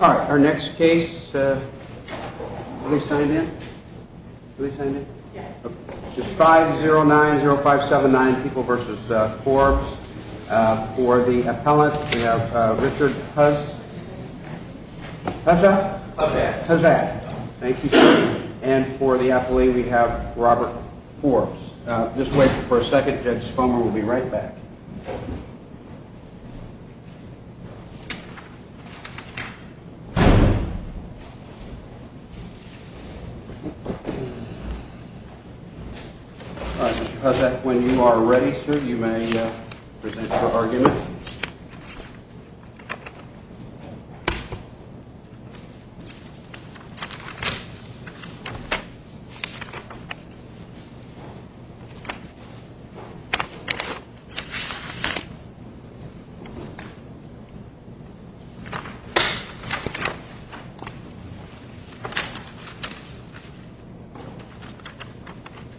Our next case is 5090579, People v. Forbes. For the appellant, we have Richard Huzzad, and for the appellee we have Robert Forbes. Just wait for a second, Judge Spomer will be right back. All right, Mr. Huzzad, when you are ready, sir, you may present your argument.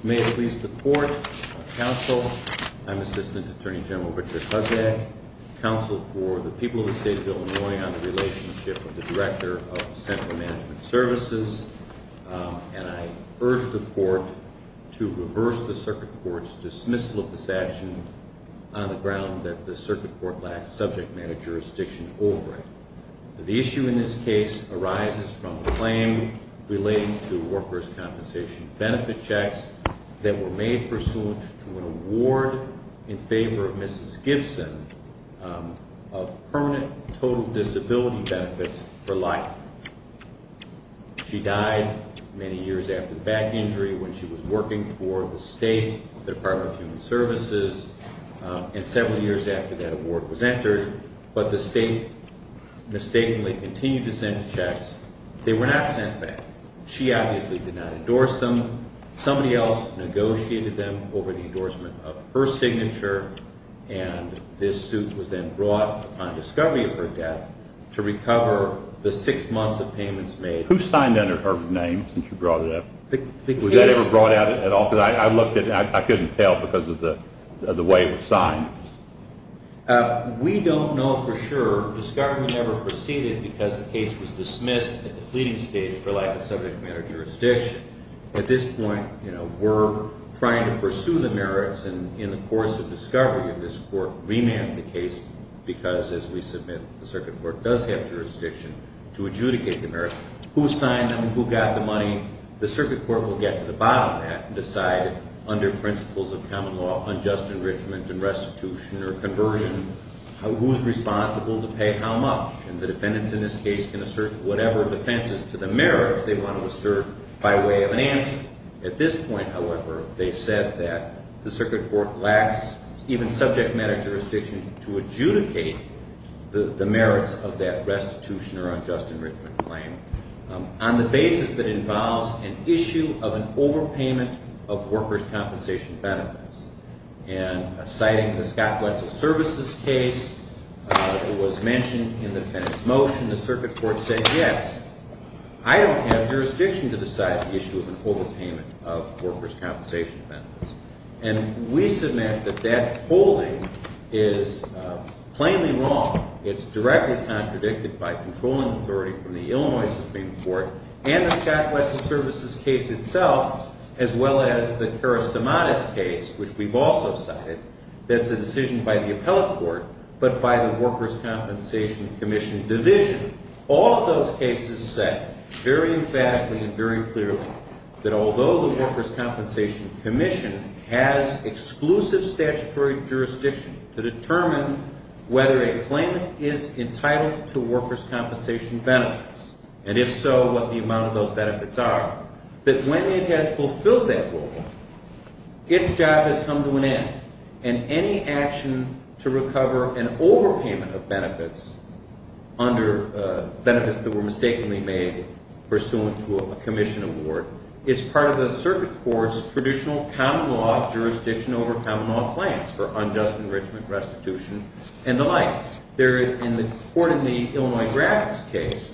May it please the Court, Counsel, I'm Assistant Attorney General Richard Huzzad, Counsel for the people of the State of Illinois on the relationship of the Director of the Central Management Services, and I urge the Court to reverse the Circuit Court's dismissal of this action on the ground that the Circuit Court lacks subject matter jurisdiction over it. The issue in this case arises from a claim relating to workers' compensation benefit checks that were made pursuant to an award in favor of Mrs. Gibson of permanent total disability benefits for life. She died many years after the back injury when she was working for the State Department of Human Services, and several years after that award was entered, but the State mistakenly continued to send checks. They were not sent back. She obviously did not endorse them. Somebody else negotiated them over the endorsement of her signature, and this suit was then brought upon discovery of her death to recover the six months of payments made. Who signed under her name since you brought it up? Was that ever brought out at all? Because I looked at it and I couldn't tell because of the way it was signed. We don't know for sure. Discovery never proceeded because the case was dismissed at the pleading stage for lack of subject matter jurisdiction. At this point, you know, we're trying to pursue the merits, and in the course of discovery of this Court, remand the case because, as we submit, the Circuit Court does have jurisdiction to adjudicate the merits. Who signed them? Who got the money? The Circuit Court will get to the bottom of that and decide under principles of common law, unjust enrichment and restitution or conversion, who's responsible to pay how much, and the defendants in this case can assert whatever defenses to the merits they want to assert by way of an answer. At this point, however, they said that the Circuit Court lacks even subject matter jurisdiction to adjudicate the merits of that restitution or unjust enrichment claim on the basis that involves an issue of an overpayment of workers' compensation benefits. And citing the Scott Wetzel Services case, it was mentioned in the defendant's motion, the Circuit Court said, yes, I don't have jurisdiction to decide the issue of an overpayment of workers' compensation benefits. And we submit that that holding is plainly wrong. It's directly contradicted by controlling authority from the Illinois Supreme Court and the Scott Wetzel Services case itself, as well as the Karastamatis case, which we've also cited, that's a decision by the Appellate Court but by the Workers' Compensation Commission Division. All of those cases said very emphatically and very clearly that although the Workers' Compensation Commission has exclusive statutory jurisdiction to determine whether a claimant is entitled to workers' compensation benefits, and if so, what the amount of those benefits are, that when it has fulfilled that role, its job has come to an end. And any action to recover an overpayment of benefits under benefits that were mistakenly made pursuant to a commission award is part of the Circuit Court's traditional common law jurisdiction over common law claims for unjust enrichment, restitution, and the like. The court in the Illinois Graphics case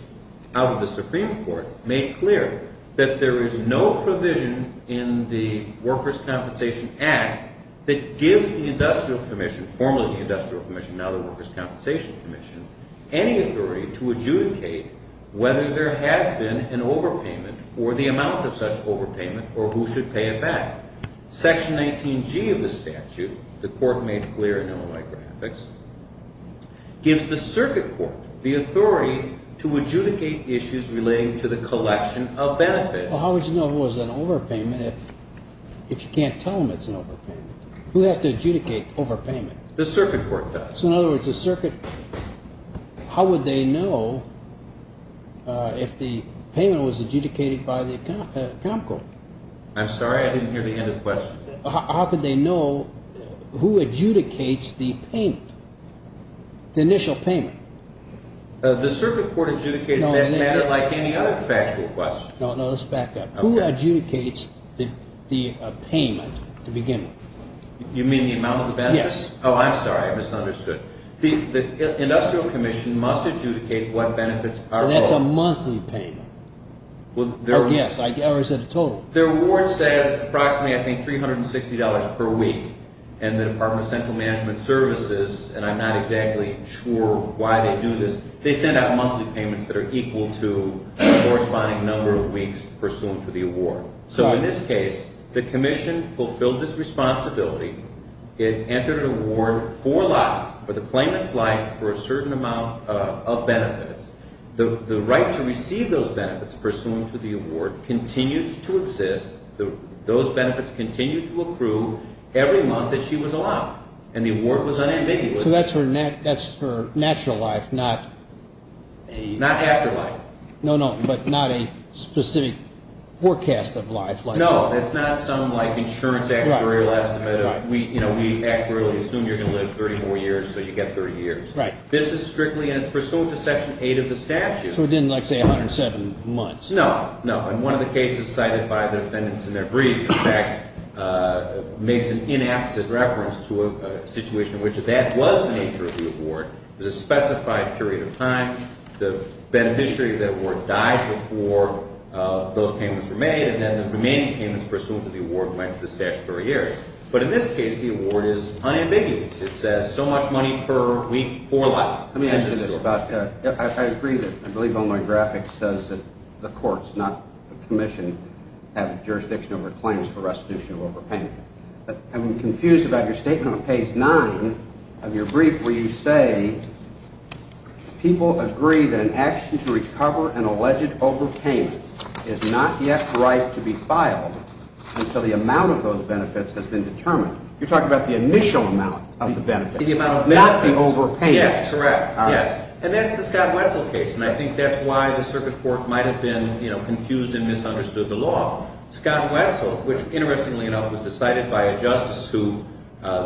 out of the Supreme Court made clear that there is no provision in the Workers' Compensation Act that gives the Industrial Commission, formerly the Industrial Commission, now the Workers' Compensation Commission, any authority to adjudicate whether there has been an overpayment or the amount of such overpayment or who should pay it back. Section 19G of the statute, the court made clear in Illinois Graphics, gives the Circuit Court the authority to adjudicate issues relating to the collection of benefits. Well, how would you know if it was an overpayment if you can't tell them it's an overpayment? Who has to adjudicate overpayment? The Circuit Court does. So in other words, the Circuit, how would they know if the payment was adjudicated by the Account Court? I'm sorry, I didn't hear the end of the question. How could they know who adjudicates the payment, the initial payment? The Circuit Court adjudicates that matter like any other factual question. No, no, let's back up. Who adjudicates the payment to begin with? You mean the amount of the benefits? Yes. Oh, I'm sorry, I misunderstood. The Industrial Commission must adjudicate what benefits are owed. That's a monthly payment. Oh, yes, I already said a total. The award says approximately, I think, $360 per week, and the Department of Central Management Services, and I'm not exactly sure why they do this, they send out monthly payments that are equal to the corresponding number of weeks pursuant to the award. So in this case, the Commission fulfilled its responsibility, it entered an award for life, for the claimant's life for a certain amount of benefits. The right to receive those benefits pursuant to the award continues to exist. Those benefits continue to accrue every month that she was alive, and the award was unambiguous. So that's for natural life, not… Not afterlife. No, no, but not a specific forecast of life. No, that's not some insurance actuarial estimate. We actuarially assume you're going to live 30 more years, so you get 30 years. Right. This is strictly pursuant to Section 8 of the statute. So it didn't, like, say 107 months. No, no, and one of the cases cited by the defendants in their brief, in fact, makes an inapposite reference to a situation in which that was the nature of the award. There's a specified period of time. The beneficiary of that award died before those payments were made, and then the remaining payments pursuant to the award went to the statutory heirs. But in this case, the award is unambiguous. It says so much money per week for life. Let me ask you this about – I agree that – I believe Illinois graphics says that the courts, not the commission, have jurisdiction over claims for restitution of overpayment. But I'm confused about your statement on page 9 of your brief where you say people agree that an action to recover an alleged overpayment is not yet right to be filed until the amount of those benefits has been determined. You're talking about the initial amount of the benefits, not the overpayment. Yes, correct. Yes. And that's the Scott Wetzel case, and I think that's why the Circuit Court might have been confused and misunderstood the law. Scott Wetzel, which, interestingly enough, was decided by a justice who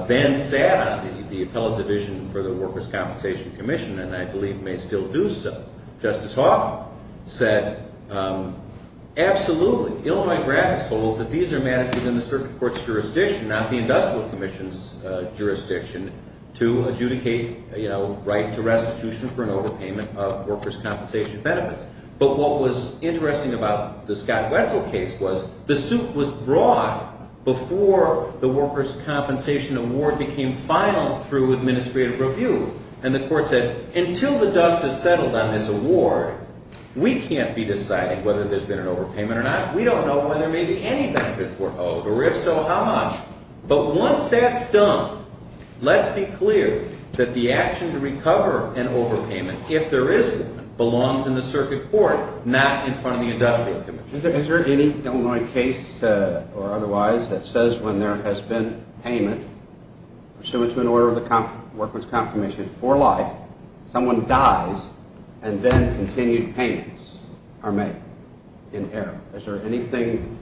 then sat on the appellate division for the Workers' Compensation Commission and I believe may still do so. Justice Hoff said, absolutely, Illinois graphics holds that these are matters within the Circuit Court's jurisdiction, not the Industrial Commission's jurisdiction, to adjudicate, you know, right to restitution for an overpayment of workers' compensation benefits. But what was interesting about the Scott Wetzel case was the suit was brought before the workers' compensation award became final through administrative review, and the court said, until the dust has settled on this award, we can't be deciding whether there's been an overpayment or not. We don't know whether maybe any benefits were owed, or if so, how much. But once that's done, let's be clear that the action to recover an overpayment, if there is one, belongs in the Circuit Court, not in front of the Industrial Commission. Is there any Illinois case or otherwise that says when there has been payment pursuant to an order of the Workers' Compensation for life, someone dies and then continued payments are made in error? Is there anything…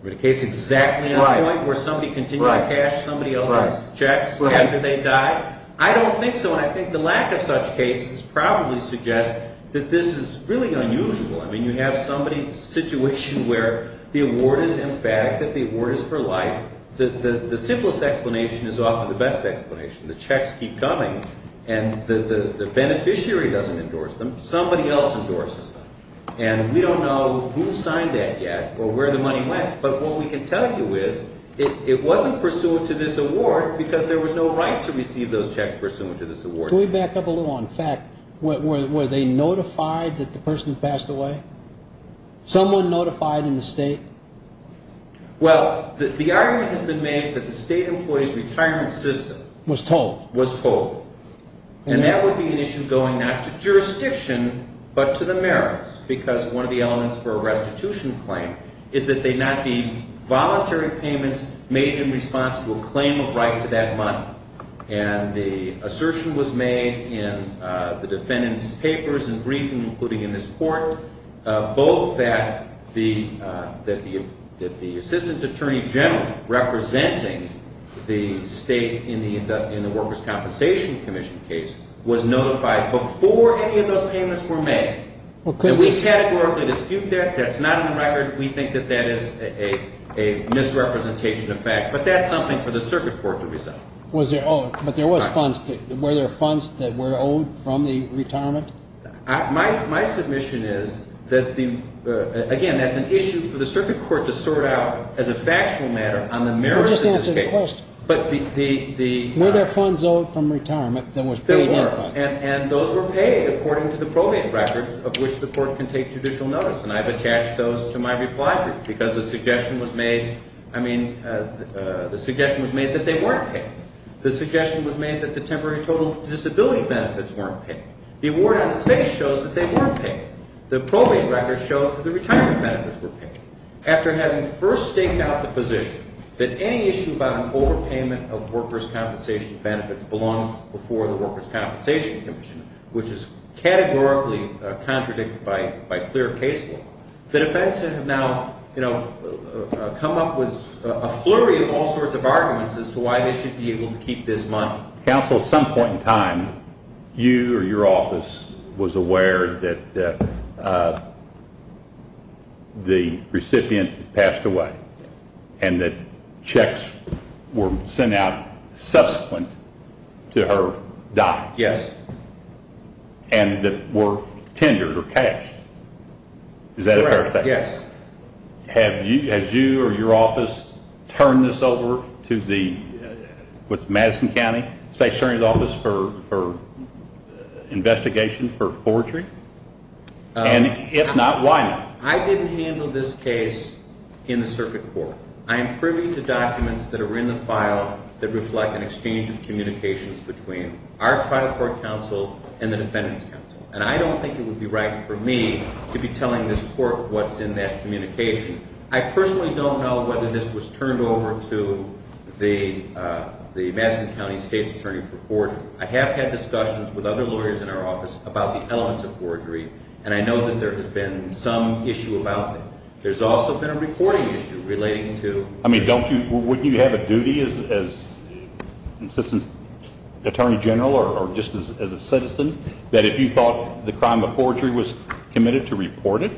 I mean, a case exactly on point where somebody continued to cash somebody else's checks after they died? I don't think so, and I think the lack of such cases probably suggests that this is really unusual. I mean, you have somebody, a situation where the award is emphatic, that the award is for life. The simplest explanation is often the best explanation. The checks keep coming, and the beneficiary doesn't endorse them. Somebody else endorses them, and we don't know who signed that yet or where the money went. But what we can tell you is it wasn't pursuant to this award because there was no right to receive those checks pursuant to this award. Can we back up a little? In fact, were they notified that the person passed away? Someone notified in the State? Well, the argument has been made that the State employee's retirement system… Was told. And that would be an issue going not to jurisdiction but to the merits because one of the elements for a restitution claim is that they not be voluntary payments made in response to a claim of right to that money. And the assertion was made in the defendant's papers and briefing, including in this court, both that the Assistant Attorney General representing the State in the Workers' Compensation Commission case was notified before any of those payments were made. And we categorically dispute that. That's not in the record. We think that that is a misrepresentation of fact. But that's something for the Circuit Court to resolve. Was there owed? But there was funds. Were there funds that were owed from the retirement? My submission is that the… Again, that's an issue for the Circuit Court to sort out as a factual matter on the merits of this case. Well, just answer the question. But the… Were there funds owed from retirement that was paid in funds? There were. And those were paid according to the probate records of which the court can take judicial notice. And I've attached those to my reply brief because the suggestion was made – I mean, the suggestion was made that they weren't paid. The suggestion was made that the temporary total disability benefits weren't paid. The award on the space shows that they weren't paid. The probate records show that the retirement benefits were paid. After having first staked out the position that any issue about an overpayment of workers' compensation benefits belongs before the Workers' Compensation Commission, which is categorically contradicted by clear case law, the defense has now, you know, come up with a flurry of all sorts of arguments as to why they should be able to keep this money. Counsel, at some point in time, you or your office was aware that the recipient passed away and that checks were sent out subsequent to her death. Yes. And that were tendered or cashed. Is that correct? Yes. Has you or your office turned this over to the – what's it – Madison County State Attorney's Office for investigation for forgery? And if not, why not? I didn't handle this case in the circuit court. I am privy to documents that are in the file that reflect an exchange of communications between our trial court counsel and the defendant's counsel. And I don't think it would be right for me to be telling this court what's in that communication. I personally don't know whether this was turned over to the Madison County State's Attorney for forgery. I have had discussions with other lawyers in our office about the elements of forgery, and I know that there has been some issue about that. There's also been a reporting issue relating to – I mean, don't you – wouldn't you have a duty as Assistant Attorney General or just as a citizen that if you thought the crime of forgery was committed to report it?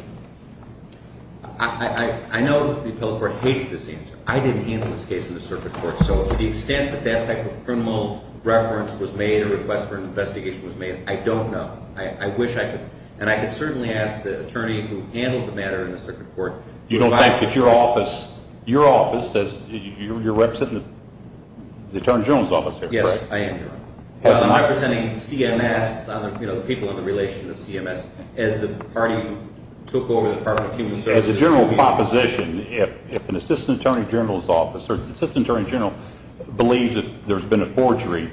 I know that the appellate court hates this answer. I didn't handle this case in the circuit court, so to the extent that that type of criminal reference was made or a request for investigation was made, I don't know. I wish I could – and I could certainly ask the attorney who handled the matter in the circuit court. You don't think that your office – your office – you're representing the Attorney General's office here, correct? Yes, I am, Your Honor. I'm representing CMS, the people in the relation of CMS, as the party who took over the Department of Human Services. As a general proposition, if an Assistant Attorney General's office or the Assistant Attorney General believes that there's been a forgery,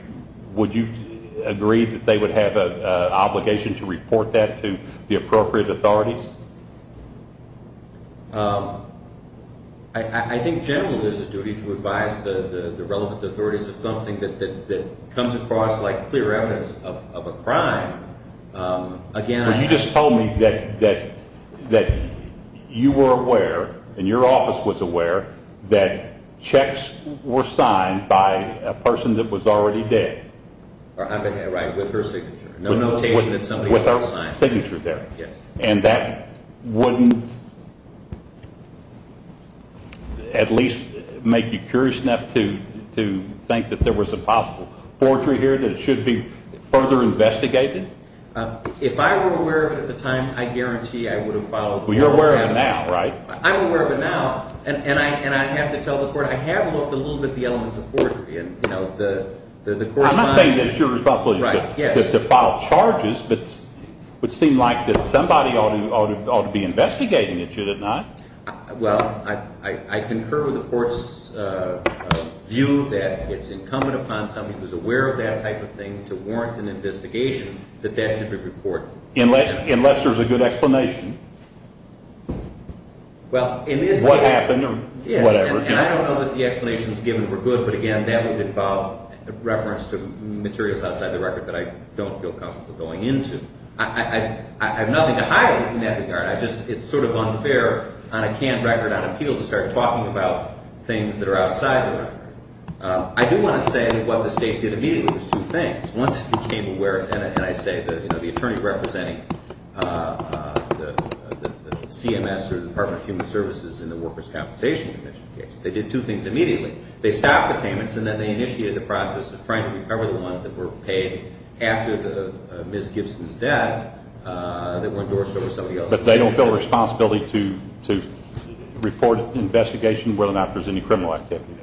would you agree that they would have an obligation to report that to the appropriate authorities? I think generally there's a duty to advise the relevant authorities of something that comes across like clear evidence of a crime. Again, I – Well, you just told me that you were aware and your office was aware that checks were signed by a person that was already dead. Right, with her signature. No notation that somebody else signed. With her signature there. Right, yes. And that wouldn't at least make you curious enough to think that there was a possible forgery here that it should be further investigated? If I were aware of it at the time, I guarantee I would have followed – Well, you're aware of it now, right? I'm aware of it now, and I have to tell the court I have looked a little bit at the elements of forgery. I'm not saying that it's your responsibility to file charges, but it would seem like that somebody ought to be investigating it, should it not? Well, I concur with the court's view that it's incumbent upon somebody who's aware of that type of thing to warrant an investigation that that should be reported. Unless there's a good explanation. Well, in this case – What happened or whatever. And I don't know that the explanations given were good, but again, that would involve reference to materials outside the record that I don't feel comfortable going into. I have nothing to hide in that regard. It's sort of unfair on a canned record on appeal to start talking about things that are outside the record. I do want to say that what the State did immediately was two things. Once it became aware – and I say the attorney representing CMS or the Department of Human Services in the Workers' Compensation Commission case. They did two things immediately. They stopped the payments, and then they initiated the process of trying to recover the ones that were paid after Ms. Gibson's death that were endorsed over somebody else. But they don't feel a responsibility to report an investigation whether or not there's any criminal activity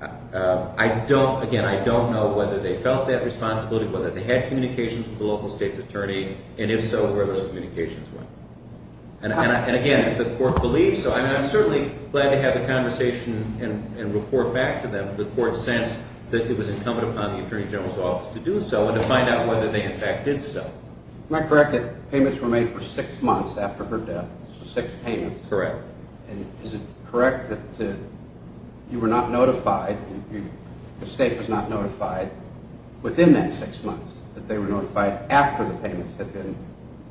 there? I don't – again, I don't know whether they felt that responsibility, whether they had communications with the local state's attorney, and if so, where those communications went. And again, if the court believes so – I mean, I'm certainly glad to have a conversation and report back to them. The court sensed that it was incumbent upon the Attorney General's Office to do so and to find out whether they in fact did so. Am I correct that payments were made for six months after her death? Correct. And is it correct that you were not notified – the State was not notified within that six months that they were notified after the payments had been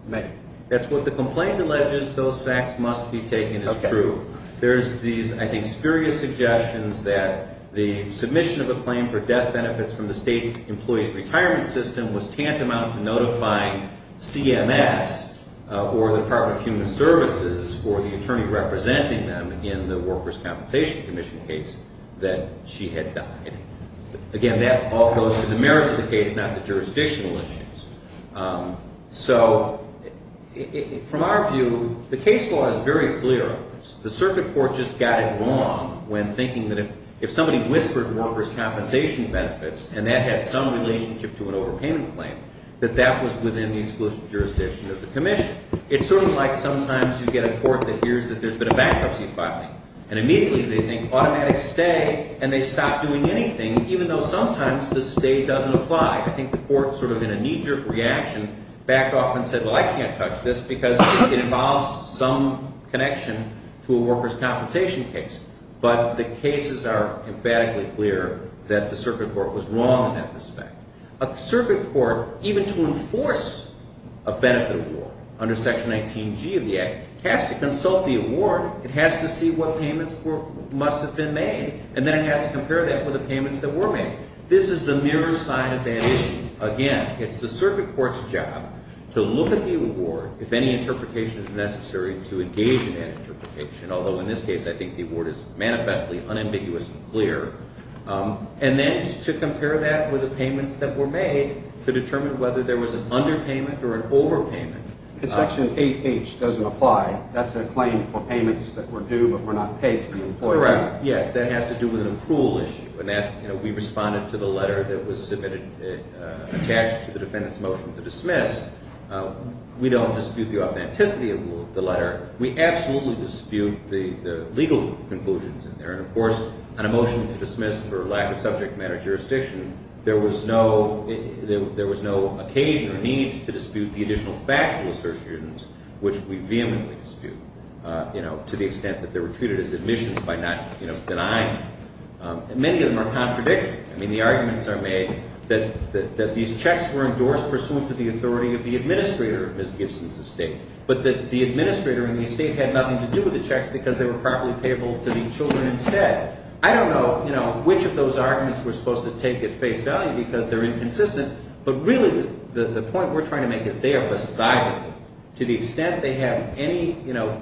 made? That's what the complaint alleges. Those facts must be taken as true. There's these, I think, spurious suggestions that the submission of a claim for death benefits from the state employee's retirement system was tantamount to notifying CMS or the Department of Human Services or the attorney representing them in the Workers' Compensation Commission case that she had died. Again, that all goes to the merits of the case, not the jurisdictional issues. So from our view, the case law is very clear on this. The circuit court just got it wrong when thinking that if somebody whispered workers' compensation benefits and that had some relationship to an overpayment claim, that that was within the exclusive jurisdiction of the commission. It's sort of like sometimes you get a court that hears that there's been a bankruptcy filing, and immediately they think automatic stay, and they stop doing anything, even though sometimes the stay doesn't apply. I think the court, sort of in a knee-jerk reaction, backed off and said, well, I can't touch this because it involves some connection to a workers' compensation case. But the cases are emphatically clear that the circuit court was wrong in that respect. A circuit court, even to enforce a benefit award under Section 19G of the Act, has to consult the award. It has to see what payments must have been made, and then it has to compare that with the payments that were made. This is the mirror side of that issue. Again, it's the circuit court's job to look at the award, if any interpretation is necessary, to engage in that interpretation, although in this case I think the award is manifestly unambiguous and clear, and then to compare that with the payments that were made to determine whether there was an underpayment or an overpayment. Because Section 8H doesn't apply. That's a claim for payments that were due but were not paid to the employer. Correct. Yes, that has to do with an approval issue. We responded to the letter that was submitted attached to the defendant's motion to dismiss. We don't dispute the authenticity of the letter. We absolutely dispute the legal conclusions in there. And of course, on a motion to dismiss for lack of subject matter jurisdiction, there was no occasion or need to dispute the additional factual assertions, which we vehemently dispute, to the extent that they were treated as admissions by not denying. Many of them are contradictory. I mean, the arguments are made that these checks were endorsed pursuant to the authority of the administrator of Ms. Gibson's estate, but that the administrator in the estate had nothing to do with the checks because they were properly payable to the children instead. I don't know which of those arguments we're supposed to take at face value because they're inconsistent. But really, the point we're trying to make is they are beside them. To the extent they have any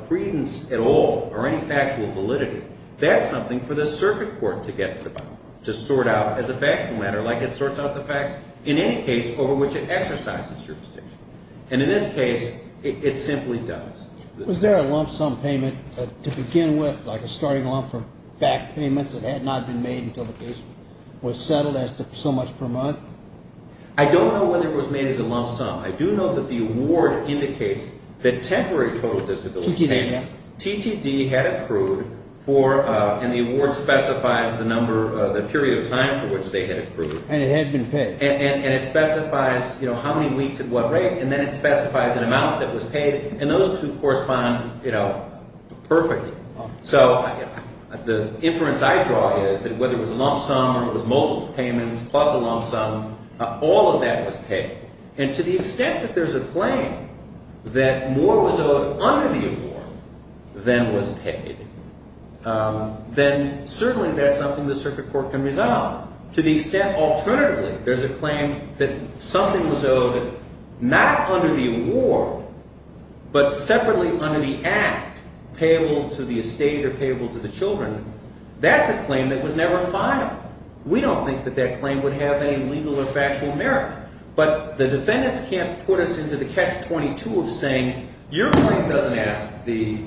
credence at all or any factual validity, that's something for the circuit court to get to sort out as a factual matter like it sorts out the facts in any case over which it exercises jurisdiction. And in this case, it simply does. Was there a lump sum payment to begin with, like a starting lump for back payments that had not been made until the case was settled as to so much per month? I don't know when it was made as a lump sum. I do know that the award indicates that temporary total disability payments. TTD, yeah. TTD had accrued for, and the award specifies the period of time for which they had accrued. And it had been paid. And it specifies how many weeks at what rate. And then it specifies an amount that was paid. And those two correspond perfectly. So the inference I draw is that whether it was a lump sum or it was multiple payments plus a lump sum, all of that was paid. And to the extent that there's a claim that more was owed under the award than was paid, then certainly that's something the circuit court can resolve. To the extent, alternatively, there's a claim that something was owed not under the award but separately under the act, payable to the estate or payable to the children. That's a claim that was never filed. We don't think that that claim would have any legal or factual merit. But the defendants can't put us into the catch-22 of saying your claim doesn't ask the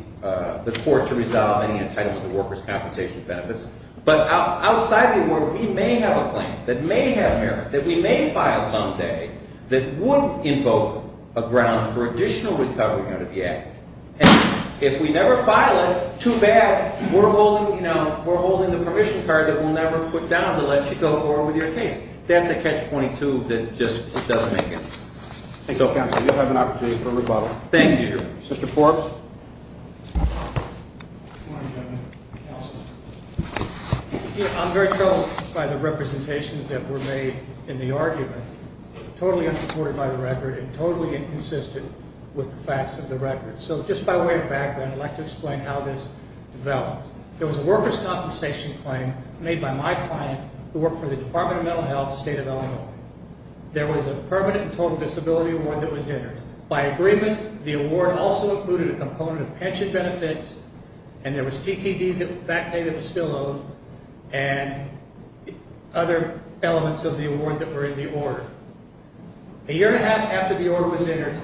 court to resolve any entitlement to workers' compensation benefits. But outside the award, we may have a claim that may have merit, that we may file someday, that would invoke a ground for additional recovery under the act. And if we never file it, too bad. We're holding the permission card that we'll never put down to let you go forward with your case. That's a catch-22 that just doesn't make sense. Thank you, counsel. You'll have an opportunity for rebuttal. Thank you. Mr. Forbes. Good morning, gentlemen. Counsel. I'm very troubled by the representations that were made in the argument, totally unsupported by the record and totally inconsistent with the facts of the record. So just by way of background, I'd like to explain how this developed. There was a workers' compensation claim made by my client who worked for the Department of Mental Health, State of Illinois. There was a permanent and total disability award that was entered. By agreement, the award also included a component of pension benefits, and there was TTD back pay that was still owed, and other elements of the award that were in the order. A year and a half after the order was entered,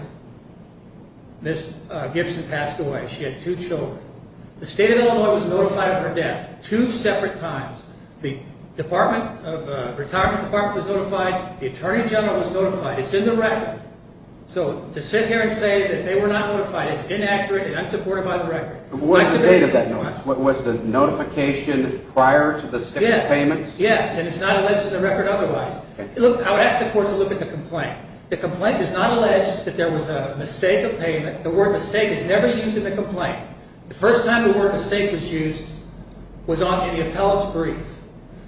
Ms. Gibson passed away. She had two children. The State of Illinois was notified of her death two separate times. The retirement department was notified. The Attorney General was notified. It's in the record. So to sit here and say that they were not notified is inaccurate and unsupported by the record. What was the date of that notice? Was the notification prior to the state's payments? Yes, and it's not alleged in the record otherwise. Look, I would ask the court to look at the complaint. The complaint does not allege that there was a mistake of payment. The word mistake is never used in the complaint. The first time the word mistake was used was in the appellate's brief.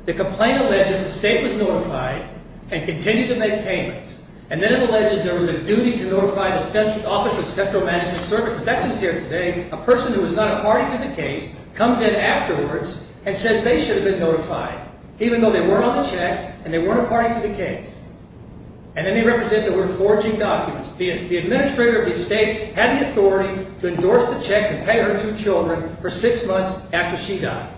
The complaint alleges the state was notified and continued to make payments, and then it alleges there was a duty to notify the Office of Central Management Services. That's what's here today. A person who was not a party to the case comes in afterwards and says they should have been notified, even though they weren't on the checks and they weren't a party to the case. And then they represent the word forging documents. The administrator of the state had the authority to endorse the checks and pay her two children for six months after she died.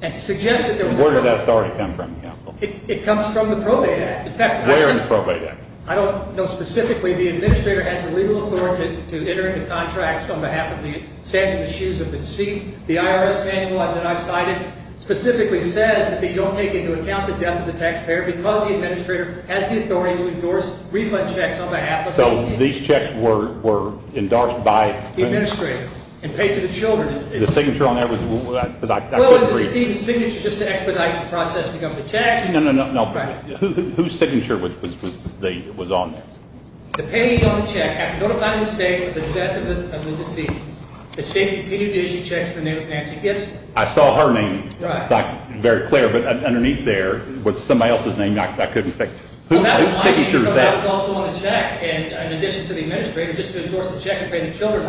Where did that authority come from? It comes from the Probate Act. Where in the Probate Act? I don't know specifically. The administrator has the legal authority to enter into contracts on behalf of the stance of the shoes of the deceased. The IRS manual that I've cited specifically says that they don't take into account the death of the taxpayer because the administrator has the authority to endorse refund checks on behalf of the deceased. So these checks were endorsed by the administrator and paid to the children. The signature on there, because I couldn't read it. Well, it's the deceased's signature just to expedite the processing of the checks. No, no, no. Whose signature was on there? The payee on the check after notifying the state of the death of the deceased. The state continued to issue checks in the name of Nancy Gibson. I saw her name. Right. It's not very clear, but underneath there was somebody else's name. I couldn't think. Whose signature is that? Well, that was my signature because that was also on the check, in addition to the administrator, just to endorse the check and pay the children.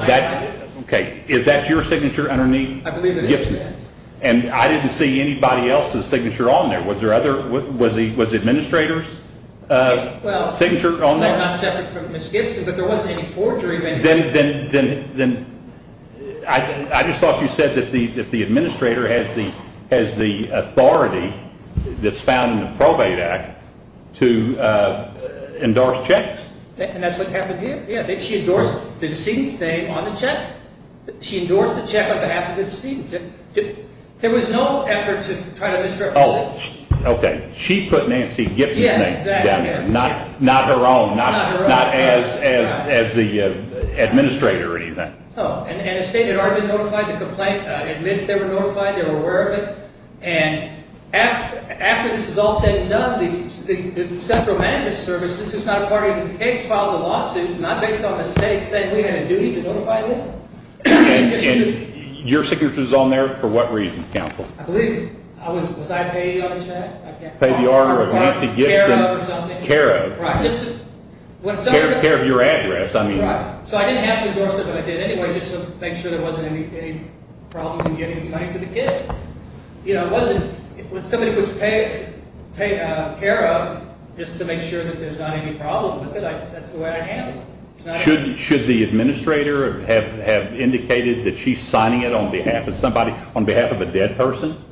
Okay. Is that your signature underneath Gibson's? I believe it is. And I didn't see anybody else's signature on there. Was the administrator's signature on there? Well, they're not separate from Ms. Gibson, but there wasn't any forgery. Then I just thought you said that the administrator has the authority that's found in the Probate Act to endorse checks. And that's what happened here. She endorsed the decedent's name on the check. She endorsed the check on behalf of the decedent. There was no effort to try to misrepresent. Oh, okay. She put Nancy Gibson's name down there. Yes, exactly. Not her own. Not as the administrator or anything. Oh. And the state had already been notified. The complaint admits they were notified. They were aware of it. And after this is all said and done, the Central Management Service, this is not a part of the case, not based on the state saying we have a duty to notify you. And your signature is on there for what reason, counsel? I believe, was I paid on the check? I can't recall. You were paid the order of Nancy Gibson. CARA or something. CARA. Right. CARA of your address, I mean. Right. So I didn't have to endorse it, but I did anyway just to make sure there wasn't any problems in getting money to the kids. You know, it wasn't, when somebody was paying CARA just to make sure that there's not any problem with it, that's the way I handled it. Should the administrator have indicated that she's signing it on behalf of somebody, on behalf of a dead person?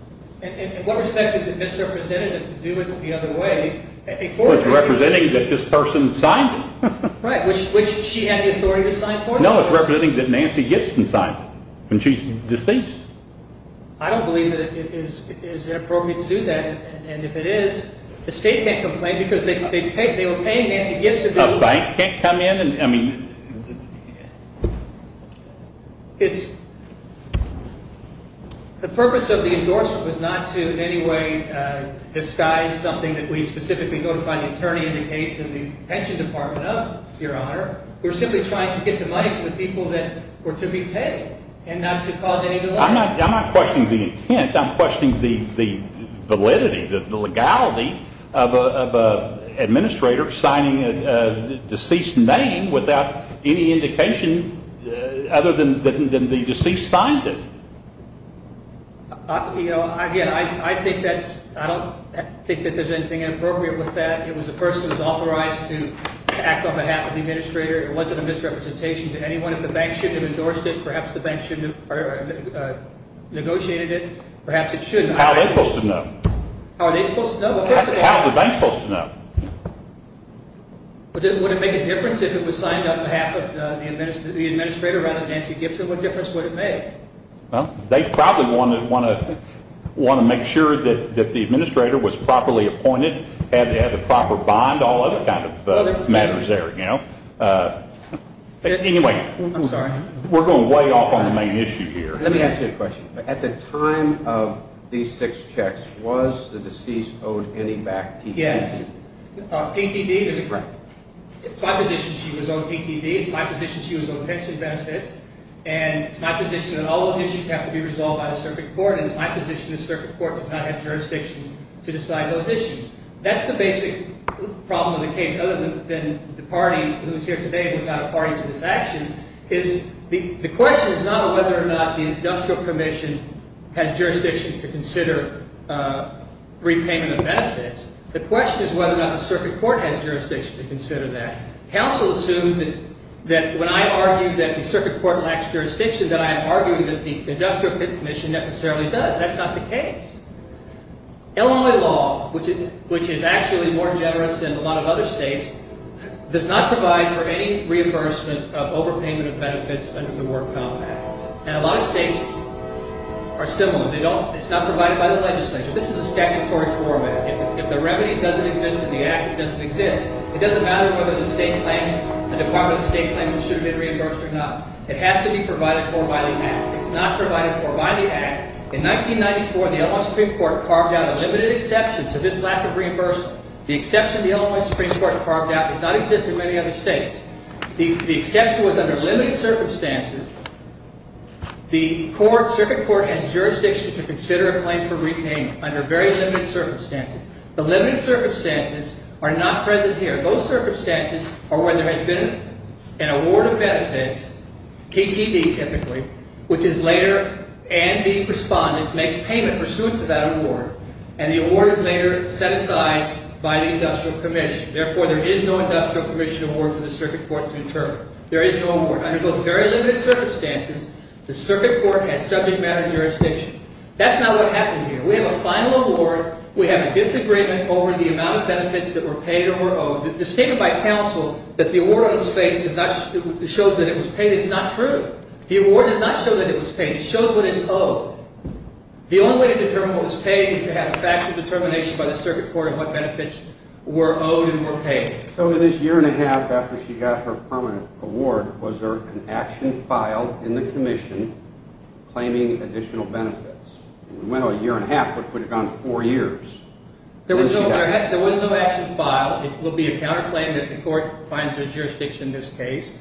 In what respect is it misrepresentative to do it the other way? It's representing that this person signed it. Right, which she had the authority to sign for you? No, it's representing that Nancy Gibson signed it, and she's deceased. I don't believe that it is inappropriate to do that, and if it is, the state can't complain because they were paying Nancy Gibson. Right. Can't come in and, I mean. It's, the purpose of the endorsement was not to in any way disguise something that we specifically notified the attorney in the case in the pension department of, Your Honor, we're simply trying to get the money to the people that were to be paid and not to cause any delay. I'm not questioning the intent. I'm questioning the validity, the legality of an administrator signing a deceased name without any indication other than the deceased signed it. You know, again, I think that's, I don't think that there's anything inappropriate with that. It was a person who was authorized to act on behalf of the administrator. It wasn't a misrepresentation to anyone. If the bank shouldn't have endorsed it, perhaps the bank shouldn't have negotiated it, perhaps it shouldn't. How are they supposed to know? How are they supposed to know? How is the bank supposed to know? Would it make a difference if it was signed on behalf of the administrator rather than Nancy Gibson? What difference would it make? Well, they probably want to make sure that the administrator was properly appointed, had a proper bond, all other kind of matters there, you know. Anyway. I'm sorry. We're going way off on the main issue here. Let me ask you a question. At the time of these six checks, was the deceased owed any back TTD? Yes. TTD is a grant. It's my position she was owed TTD. It's my position she was owed pension benefits. And it's my position that all those issues have to be resolved by the circuit court. And it's my position the circuit court does not have jurisdiction to decide those issues. That's the basic problem of the case, other than the party who is here today was not a party to this action. The question is not whether or not the industrial commission has jurisdiction to consider repayment of benefits. The question is whether or not the circuit court has jurisdiction to consider that. Counsel assumes that when I argue that the circuit court lacks jurisdiction, that I am arguing that the industrial commission necessarily does. That's not the case. Illinois law, which is actually more generous than a lot of other states, does not provide for any reimbursement of overpayment of benefits under the Warped Compact. And a lot of states are similar. It's not provided by the legislature. This is a statutory format. If the remedy doesn't exist in the act, it doesn't exist. It doesn't matter whether the state claims, the Department of State claims it should have been reimbursed or not. It has to be provided for by the act. It's not provided for by the act. In 1994, the Illinois Supreme Court carved out a limited exception to this lack of reimbursement. The exception the Illinois Supreme Court carved out does not exist in many other states. The exception was under limited circumstances. The circuit court has jurisdiction to consider a claim for repayment under very limited circumstances. The limited circumstances are not present here. Those circumstances are when there has been an award of benefits, TTV typically, which is later and the respondent makes payment pursuant to that award. And the award is later set aside by the industrial commission. Therefore, there is no industrial commission award for the circuit court to determine. There is no award. Under those very limited circumstances, the circuit court has subject matter jurisdiction. That's not what happened here. We have a final award. We have a disagreement over the amount of benefits that were paid or were owed. It's stated by counsel that the award on his face does not show that it was paid. It's not true. The award does not show that it was paid. It shows what is owed. The only way to determine what was paid is to have a factual determination by the circuit court of what benefits were owed and were paid. So in this year and a half after she got her permanent award, was there an action filed in the commission claiming additional benefits? We went a year and a half. What if we had gone four years? There was no action filed. It would be a counterclaim if the court finds there's jurisdiction in this case.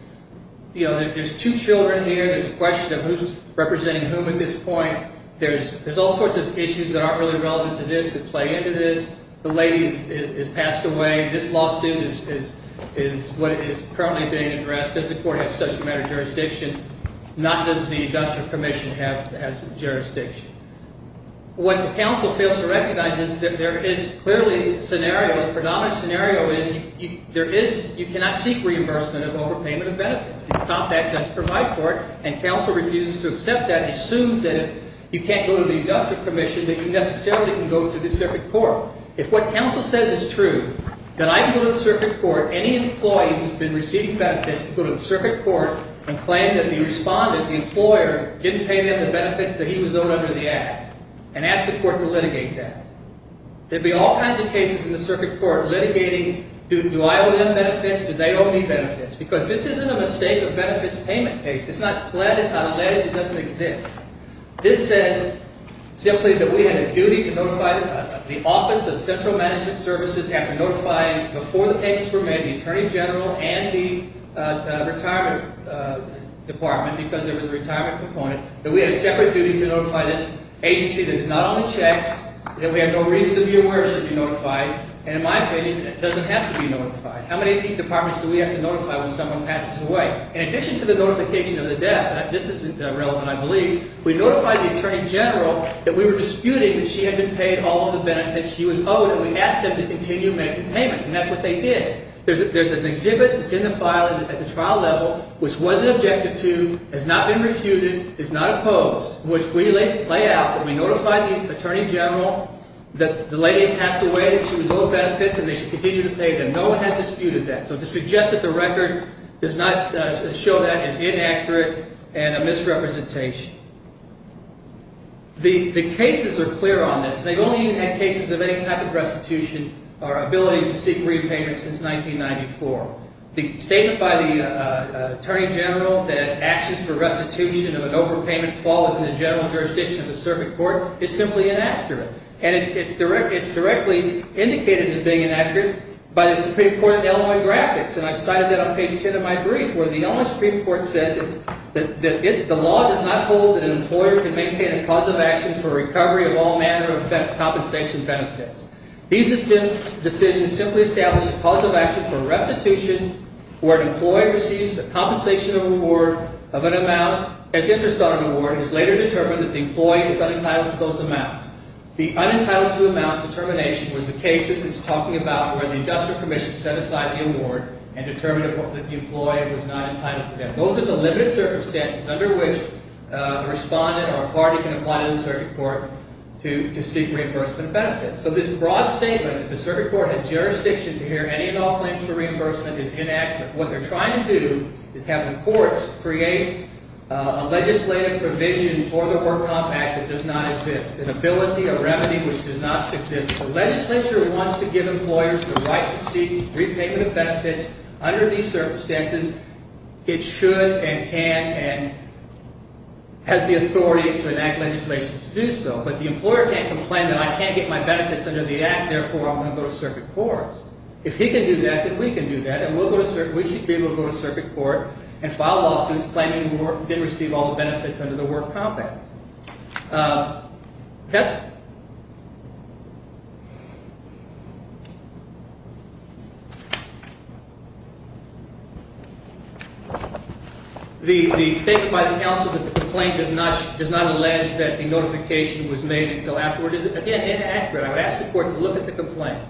You know, there's two children here. There's a question of who's representing whom at this point. There's all sorts of issues that aren't really relevant to this that play into this. The lady has passed away. This lawsuit is what is currently being addressed. Does the court have subject matter jurisdiction? Not does the industrial commission have jurisdiction. What the counsel fails to recognize is that there is clearly a scenario. The predominant scenario is you cannot seek reimbursement of overpayment of benefits. The Compact does provide for it, and counsel refuses to accept that. It assumes that if you can't go to the industrial commission, that you necessarily can go to the circuit court. If what counsel says is true, that I can go to the circuit court, any employee who's been receiving benefits can go to the circuit court and claim that the respondent, the employer, didn't pay them the benefits that he was owed under the act and ask the court to litigate that. There'd be all kinds of cases in the circuit court litigating, do I owe them benefits? Do they owe me benefits? Because this isn't a mistake of benefits payment case. It's not alleged. It doesn't exist. This says simply that we had a duty to notify the office of central management services after notifying, before the payments were made, the attorney general and the retirement department, because there was a retirement component, that we had a separate duty to notify this agency that is not on the checks, that we have no reason to be aware it should be notified, and in my opinion, it doesn't have to be notified. How many departments do we have to notify when someone passes away? In addition to the notification of the death, and this is relevant, I believe, we notified the attorney general that we were disputing that she had been paid all of the benefits she was owed, and we asked them to continue making payments, and that's what they did. There's an exhibit that's in the file at the trial level which wasn't objected to, has not been refuted, is not opposed, which we lay out that we notified the attorney general that the lady has passed away, that she was owed benefits, and they should continue to pay them. No one has disputed that. So to suggest that the record does not show that is inaccurate and a misrepresentation. The cases are clear on this. They've only even had cases of any type of restitution or ability to seek repayment since 1994. The statement by the attorney general that actions for restitution of an overpayment fall within the general jurisdiction of the circuit court is simply inaccurate, and it's directly indicated as being inaccurate by the Supreme Court's Illinois graphics, and I've cited that on page 10 of my brief where the Illinois Supreme Court says that the law does not hold that an employer can maintain a cause of action for recovery of all manner of compensation benefits. These decisions simply establish a cause of action for restitution where an employee receives a compensation of an amount as interest on an award and is later determined that the employee is unentitled to those amounts. The unentitled-to-amount determination was the cases it's talking about where the industrial commission set aside the award and determined that the employee was not entitled to that. Those are the limited circumstances under which a respondent or a party can apply to the circuit court to seek reimbursement benefits. So this broad statement that the circuit court has jurisdiction to hear any and all claims for reimbursement is inaccurate. What they're trying to do is have the courts create a legislative provision for the Work Compact that does not exist, an ability, a remedy, which does not exist. The legislature wants to give employers the right to seek repayment of benefits. Under these circumstances, it should and can and has the authority to enact legislation to do so, but the employer can't complain that I can't get my benefits under the Act, therefore I'm going to go to circuit court. If he can do that, then we can do that, and we should be able to go to circuit court and file lawsuits claiming we didn't receive all the benefits under the Work Compact. The statement by the counsel that the complaint does not allege that the notification was made until afterward is, again, inaccurate. I would ask the court to look at the complaint.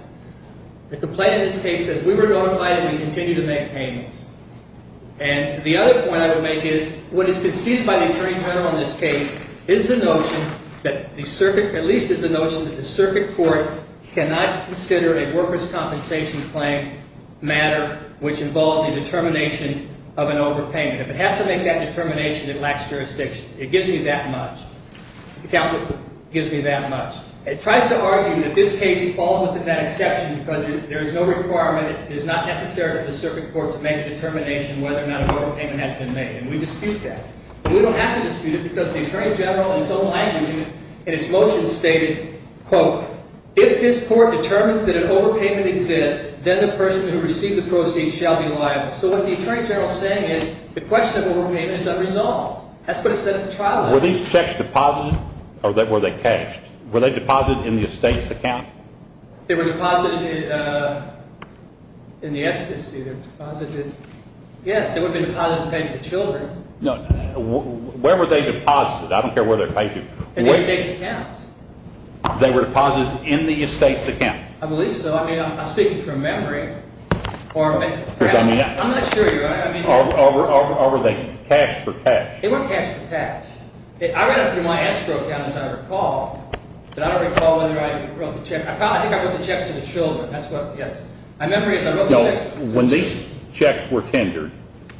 The complaint in this case says we were notified and we continue to make payments. And the other point I would make is what is conceded by the Attorney General in this case is the notion that the circuit, at least is the notion that the circuit court cannot consider a workers' compensation claim matter, which involves a determination of an overpayment. If it has to make that determination, it lacks jurisdiction. It gives me that much. The counsel gives me that much. It tries to argue that this case falls within that exception because there is no requirement. It is not necessary for the circuit court to make a determination whether or not an overpayment has been made, and we dispute that. We don't have to dispute it because the Attorney General in his own language in his motion stated, quote, if this court determines that an overpayment exists, then the person who received the proceeds shall be liable. So what the Attorney General is saying is the question of overpayment is unresolved. That's what it said at the trial. Were these checks deposited or were they cashed? Were they deposited in the estate's account? They were deposited in the estate's account. Yes, they would have been deposited and paid to the children. No, where were they deposited? I don't care where they were paid to. In the estate's account. They were deposited in the estate's account. I believe so. I mean, I'm speaking from memory. I'm not sure. Or were they cashed for cash? They were cashed for cash. I read up through my escrow account, as I recall, and I don't recall whether I wrote the check. I probably think I wrote the checks to the children. That's what, yes. My memory is I wrote the checks to the children. When these checks were tendered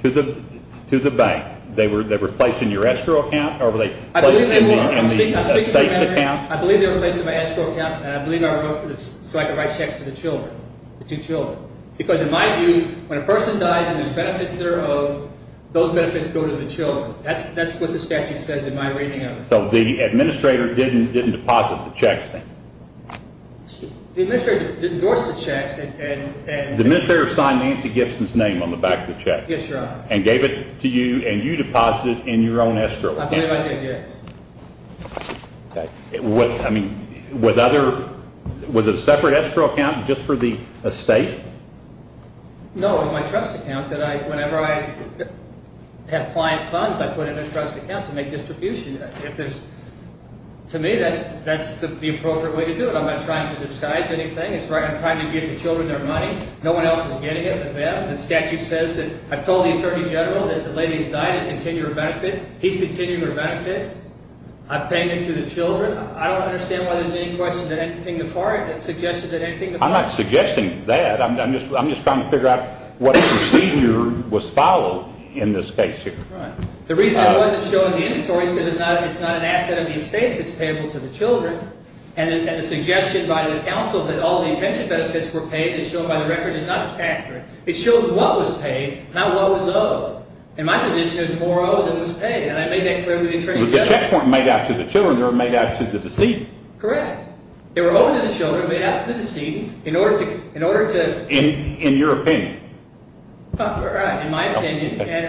to the bank, they were placed in your escrow account or were they placed in the estate's account? I believe they were placed in my escrow account, and I believe I wrote so I could write checks to the children, the two children. Because in my view, when a person dies and there's benefits that are owed, those benefits go to the children. That's what the statute says in my reading of it. So the administrator didn't deposit the checks then? The administrator didn't endorse the checks. The administrator signed Nancy Gibson's name on the back of the check. Yes, Your Honor. And gave it to you, and you deposited it in your own escrow account. I believe I did, yes. Okay. I mean, was it a separate escrow account just for the estate? No, it was my trust account that whenever I have client funds, I put in a trust account to make distribution. To me, that's the appropriate way to do it. I'm not trying to disguise anything. I'm trying to give the children their money. No one else is getting it but them. The statute says that I've told the Attorney General that the lady's died and continued her benefits. I've paid it to the children. I don't understand why there's any question that anything before it that suggested that anything before it. I'm not suggesting that. I'm just trying to figure out what procedure was followed in this case here. Right. The reason it wasn't shown in the inventories is because it's not an asset of the estate if it's payable to the children. And the suggestion by the counsel that all the pension benefits were paid as shown by the record is not factored. It shows what was paid, not what was owed. In my position, it was more owed than was paid, and I made that clear to the Attorney General. So the checks weren't made out to the children. They were made out to the decedent. Correct. They were owed to the children, made out to the decedent, in order to – In your opinion. Right, in my opinion. And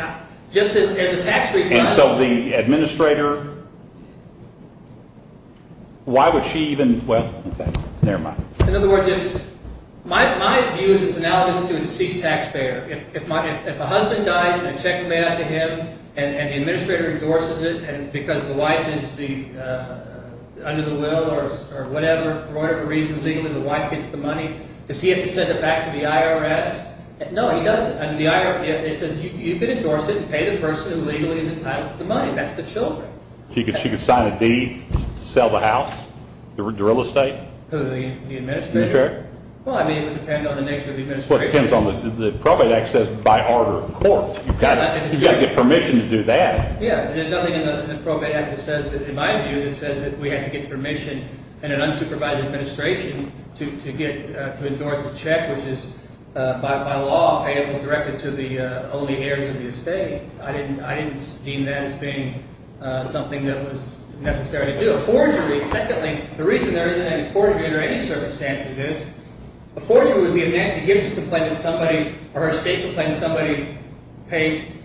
just as a tax refund – And so the administrator – why would she even – well, never mind. In other words, my view is analogous to a deceased taxpayer. If a husband dies and a check is made out to him and the administrator endorses it because the wife is under the will or whatever, for whatever reason, legally the wife gets the money, does he have to send it back to the IRS? No, he doesn't. It says you can endorse it and pay the person who legally entitles the money. That's the children. She could sign a deed to sell the house, the real estate? Who, the administrator? Well, I mean, it would depend on the nature of the administration. Well, it depends on – the Probate Act says by order of court. You've got to get permission to do that. Yeah, there's nothing in the Probate Act that says, in my view, that says that we have to get permission in an unsupervised administration to endorse a check, which is by law payable directly to the only heirs of the estate. I didn't deem that as being something that was necessary to do. Secondly, the reason there isn't any forgery under any circumstances is a forgery would be if Nancy Gibson complained to somebody or her estate complained to somebody, paid,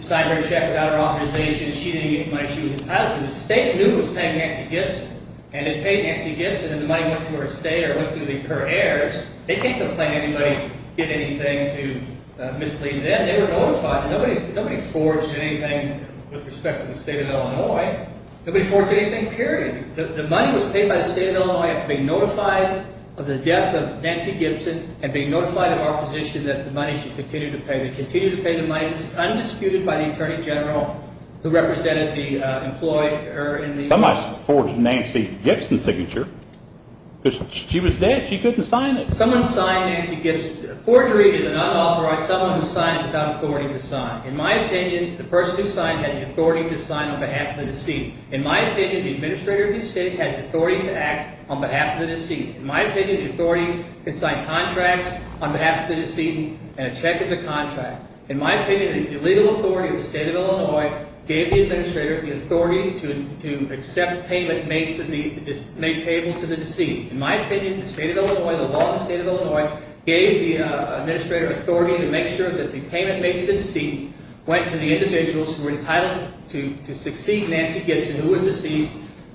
signed her check without her authorization. She didn't get the money. She was entitled to it. The estate knew it was paying Nancy Gibson, and it paid Nancy Gibson, and the money went to her estate or went to her heirs. They can't complain to anybody, get anything to mislead them. They were notified. Nobody forged anything with respect to the state of Illinois. Nobody forged anything, period. The money was paid by the state of Illinois after being notified of the death of Nancy Gibson and being notified of our position that the money should continue to pay. They continue to pay the money. It's undisputed by the Attorney General who represented the employee. Somebody forged Nancy Gibson's signature. She was dead. She couldn't sign it. Someone signed Nancy Gibson's. Forgery is an unauthorized – someone who signs without authority to sign. In my opinion, the person who signed had the authority to sign on behalf of the decedent. In my opinion, the administrator of the estate has authority to act on behalf of the decedent. In my opinion, the authority can sign contracts on behalf of the decedent, and a check is a contract. In my opinion, the legal authority of the state of Illinois gave the administrator the authority to accept payment made payable to the decedent. In my opinion, the state of Illinois, the law of the state of Illinois gave the administrator authority to make sure that the payment made to the decedent went to the individuals who were entitled to succeed Nancy Gibson, who was deceased,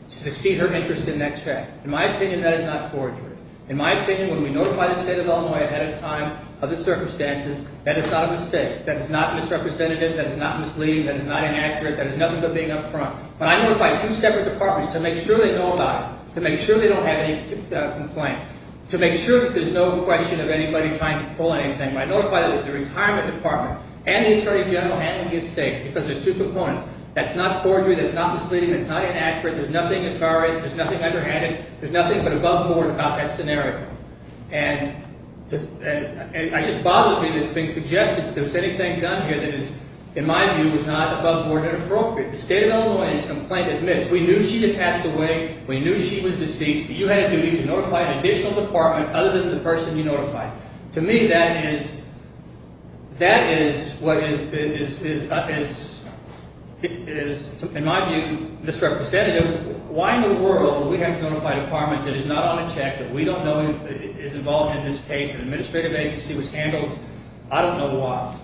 to succeed her interest in that check. In my opinion, that is not forgery. In my opinion, when we notify the state of Illinois ahead of time of the circumstances, that is not a mistake. That is not misrepresentative. That is not misleading. That is not inaccurate. That is nothing but being up front. When I notify two separate departments to make sure they know about it, to make sure they don't have any complaint, to make sure that there's no question of anybody trying to pull anything, when I notify the retirement department and the attorney general handling the estate, because there's two proponents, that's not forgery. That's not misleading. That's not inaccurate. There's nothing as far as – there's nothing underhanded. There's nothing but above board about that scenario. And it just bothers me that it's being suggested that if there's anything done here that is, in my view, is not above board and appropriate. If the state of Illinois has complained, admits, we knew she had passed away, we knew she was deceased, but you had a duty to notify an additional department other than the person you notified. To me, that is – that is what is, in my view, misrepresentative. Why in the world would we have to notify a department that is not on a check, that we don't know is involved in this case, an administrative agency which handles – I don't know why.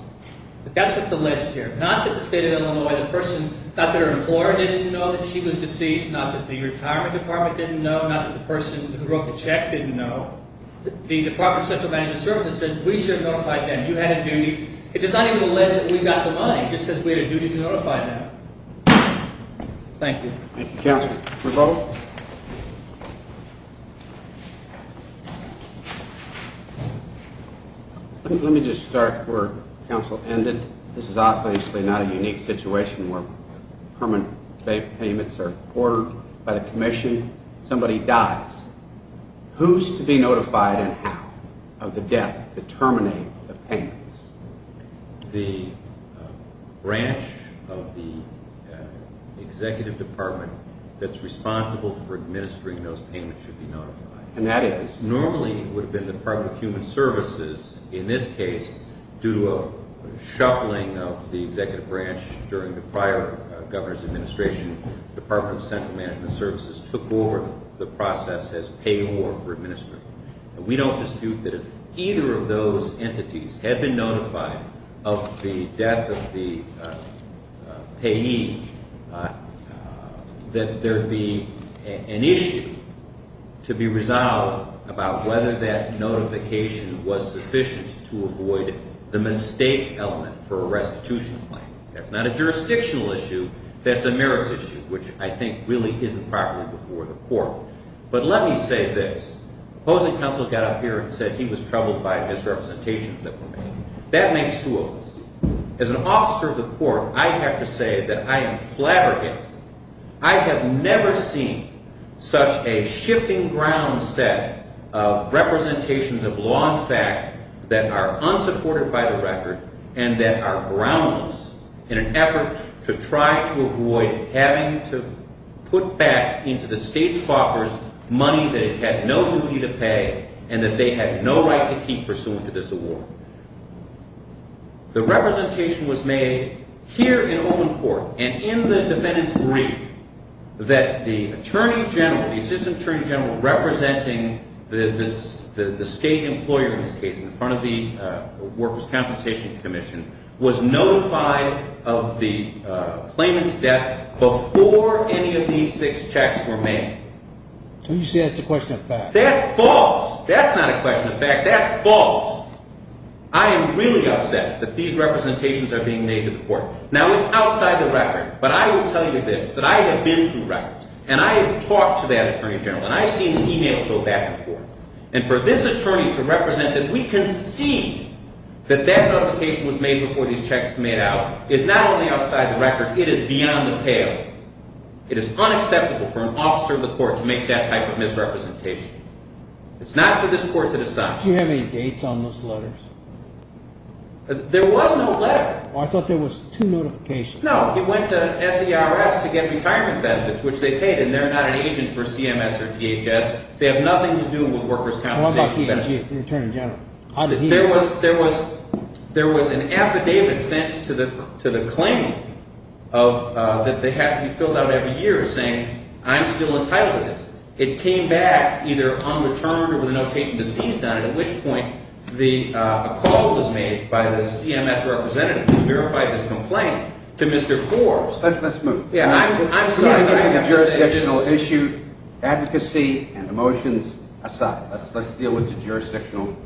But that's what's alleged here. Not that the state of Illinois, the person – not that her employer didn't know that she was deceased, not that the retirement department didn't know, not that the person who wrote the check didn't know. The Department of Social Management Services said we should have notified them. You had a duty. It does not even list that we got the money. It just says we had a duty to notify them. Thank you. Thank you, counsel. Revolt. Let me just start where counsel ended. This is obviously not a unique situation where permanent payments are ordered by the commission, somebody dies. Who's to be notified and how of the death to terminate the payments? The branch of the executive department that's responsible for administering those payments should be notified. And that is? Normally it would have been the Department of Human Services in this case due to a shuffling of the executive branch during the prior governor's administration. Department of Central Management Services took over the process as payor for administering. We don't dispute that if either of those entities had been notified of the death of the payee, that there would be an issue to be resolved about whether that notification was sufficient to avoid the mistake element for a restitution claim. That's not a jurisdictional issue. That's a merits issue, which I think really isn't properly before the court. But let me say this. Opposing counsel got up here and said he was troubled by misrepresentations that were made. That makes two of us. As an officer of the court, I have to say that I am flabbergasted. I have never seen such a shifting ground set of representations of law and fact that are unsupported by the record and that are groundless in an effort to try to avoid having to put back into the state's coffers money that it had no duty to pay and that they had no right to keep pursuant to this award. The representation was made here in open court and in the defendant's brief that the Attorney General, the Assistant Attorney General representing the state employer in this case in front of the Workers' Compensation Commission, was notified of the claimant's death before any of these six checks were made. So you say that's a question of fact. That's false. I am really upset that these representations are being made to the court. Now, it's outside the record, but I will tell you this, that I have been through records, and I have talked to that Attorney General, and I've seen the emails go back and forth. And for this attorney to represent that we can see that that notification was made before these checks were made out is not only outside the record, it is beyond the pale. It is unacceptable for an officer of the court to make that type of misrepresentation. It's not for this court to decide. Did you have any dates on those letters? There was no letter. I thought there was two notifications. No, he went to SERS to get retirement benefits, which they paid, and they're not an agent for CMS or DHS. They have nothing to do with workers' compensation benefits. What about the attorney general? There was an affidavit sent to the claimant that has to be filled out every year saying, I'm still entitled to this. It came back either unreturned or with a notation deceased on it, at which point a call was made by the CMS representative to verify this complaint to Mr. Forbes. Let's move. I'm sorry, but I have to say this. We have a jurisdictional issue. Advocacy and emotions aside, let's deal with the jurisdictional part.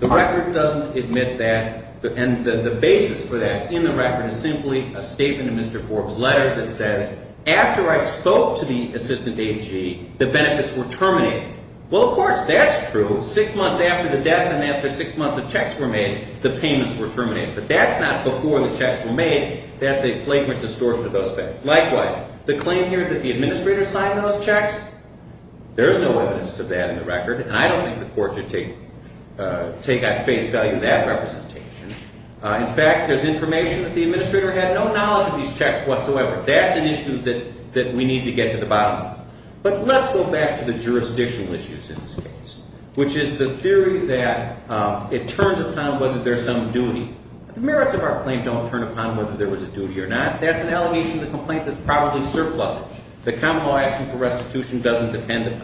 The record doesn't admit that, and the basis for that in the record is simply a statement in Mr. Forbes' letter that says, after I spoke to the assistant AG, the benefits were terminated. Well, of course, that's true. Six months after the death and after six months of checks were made, the payments were terminated. But that's not before the checks were made. That's a flagrant distortion of those things. Likewise, the claim here that the administrator signed those checks, there is no evidence of that in the record, and I don't think the court should take it. I face value that representation. In fact, there's information that the administrator had no knowledge of these checks whatsoever. That's an issue that we need to get to the bottom of. But let's go back to the jurisdictional issues in this case, which is the theory that it turns upon whether there's some duty. The merits of our claim don't turn upon whether there was a duty or not. That's an allegation of the complaint that's probably surplusage. The common law action for restitution doesn't depend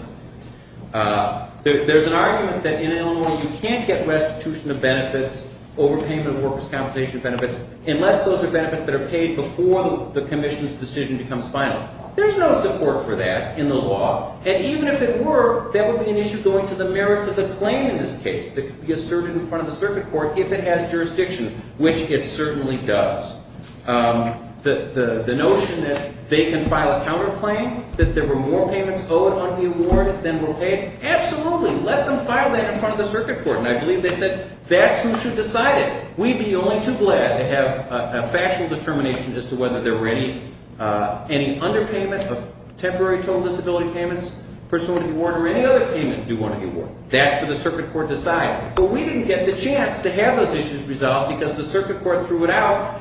upon it. There's an argument that in Illinois you can't get restitution of benefits, overpayment of workers' compensation benefits, unless those are benefits that are paid before the commission's decision becomes final. There's no support for that in the law. And even if it were, that would be an issue going to the merits of the claim in this case that could be asserted in front of the circuit court if it has jurisdiction, which it certainly does. The notion that they can file a counterclaim, that there were more payments owed on the award than were paid, absolutely. Let them file that in front of the circuit court. And I believe they said, that's who should decide it. We'd be only too glad to have a factual determination as to whether there were any underpayment of temporary total disability payments, person wanted to be warned, or any other payment do want to be warned. That's what the circuit court decided. But we didn't get the chance to have those issues resolved, because the circuit court threw it out,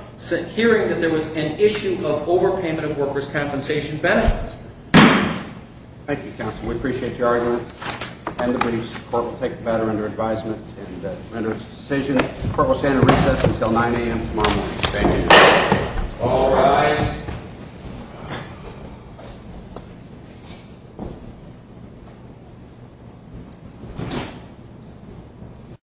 hearing that there was an issue of overpayment of workers' compensation benefits. Thank you, counsel. We appreciate your argument. The court will take the matter under advisement and render its decision. The court will stand at recess until 9 a.m. tomorrow morning. Thank you. All rise. Thank you.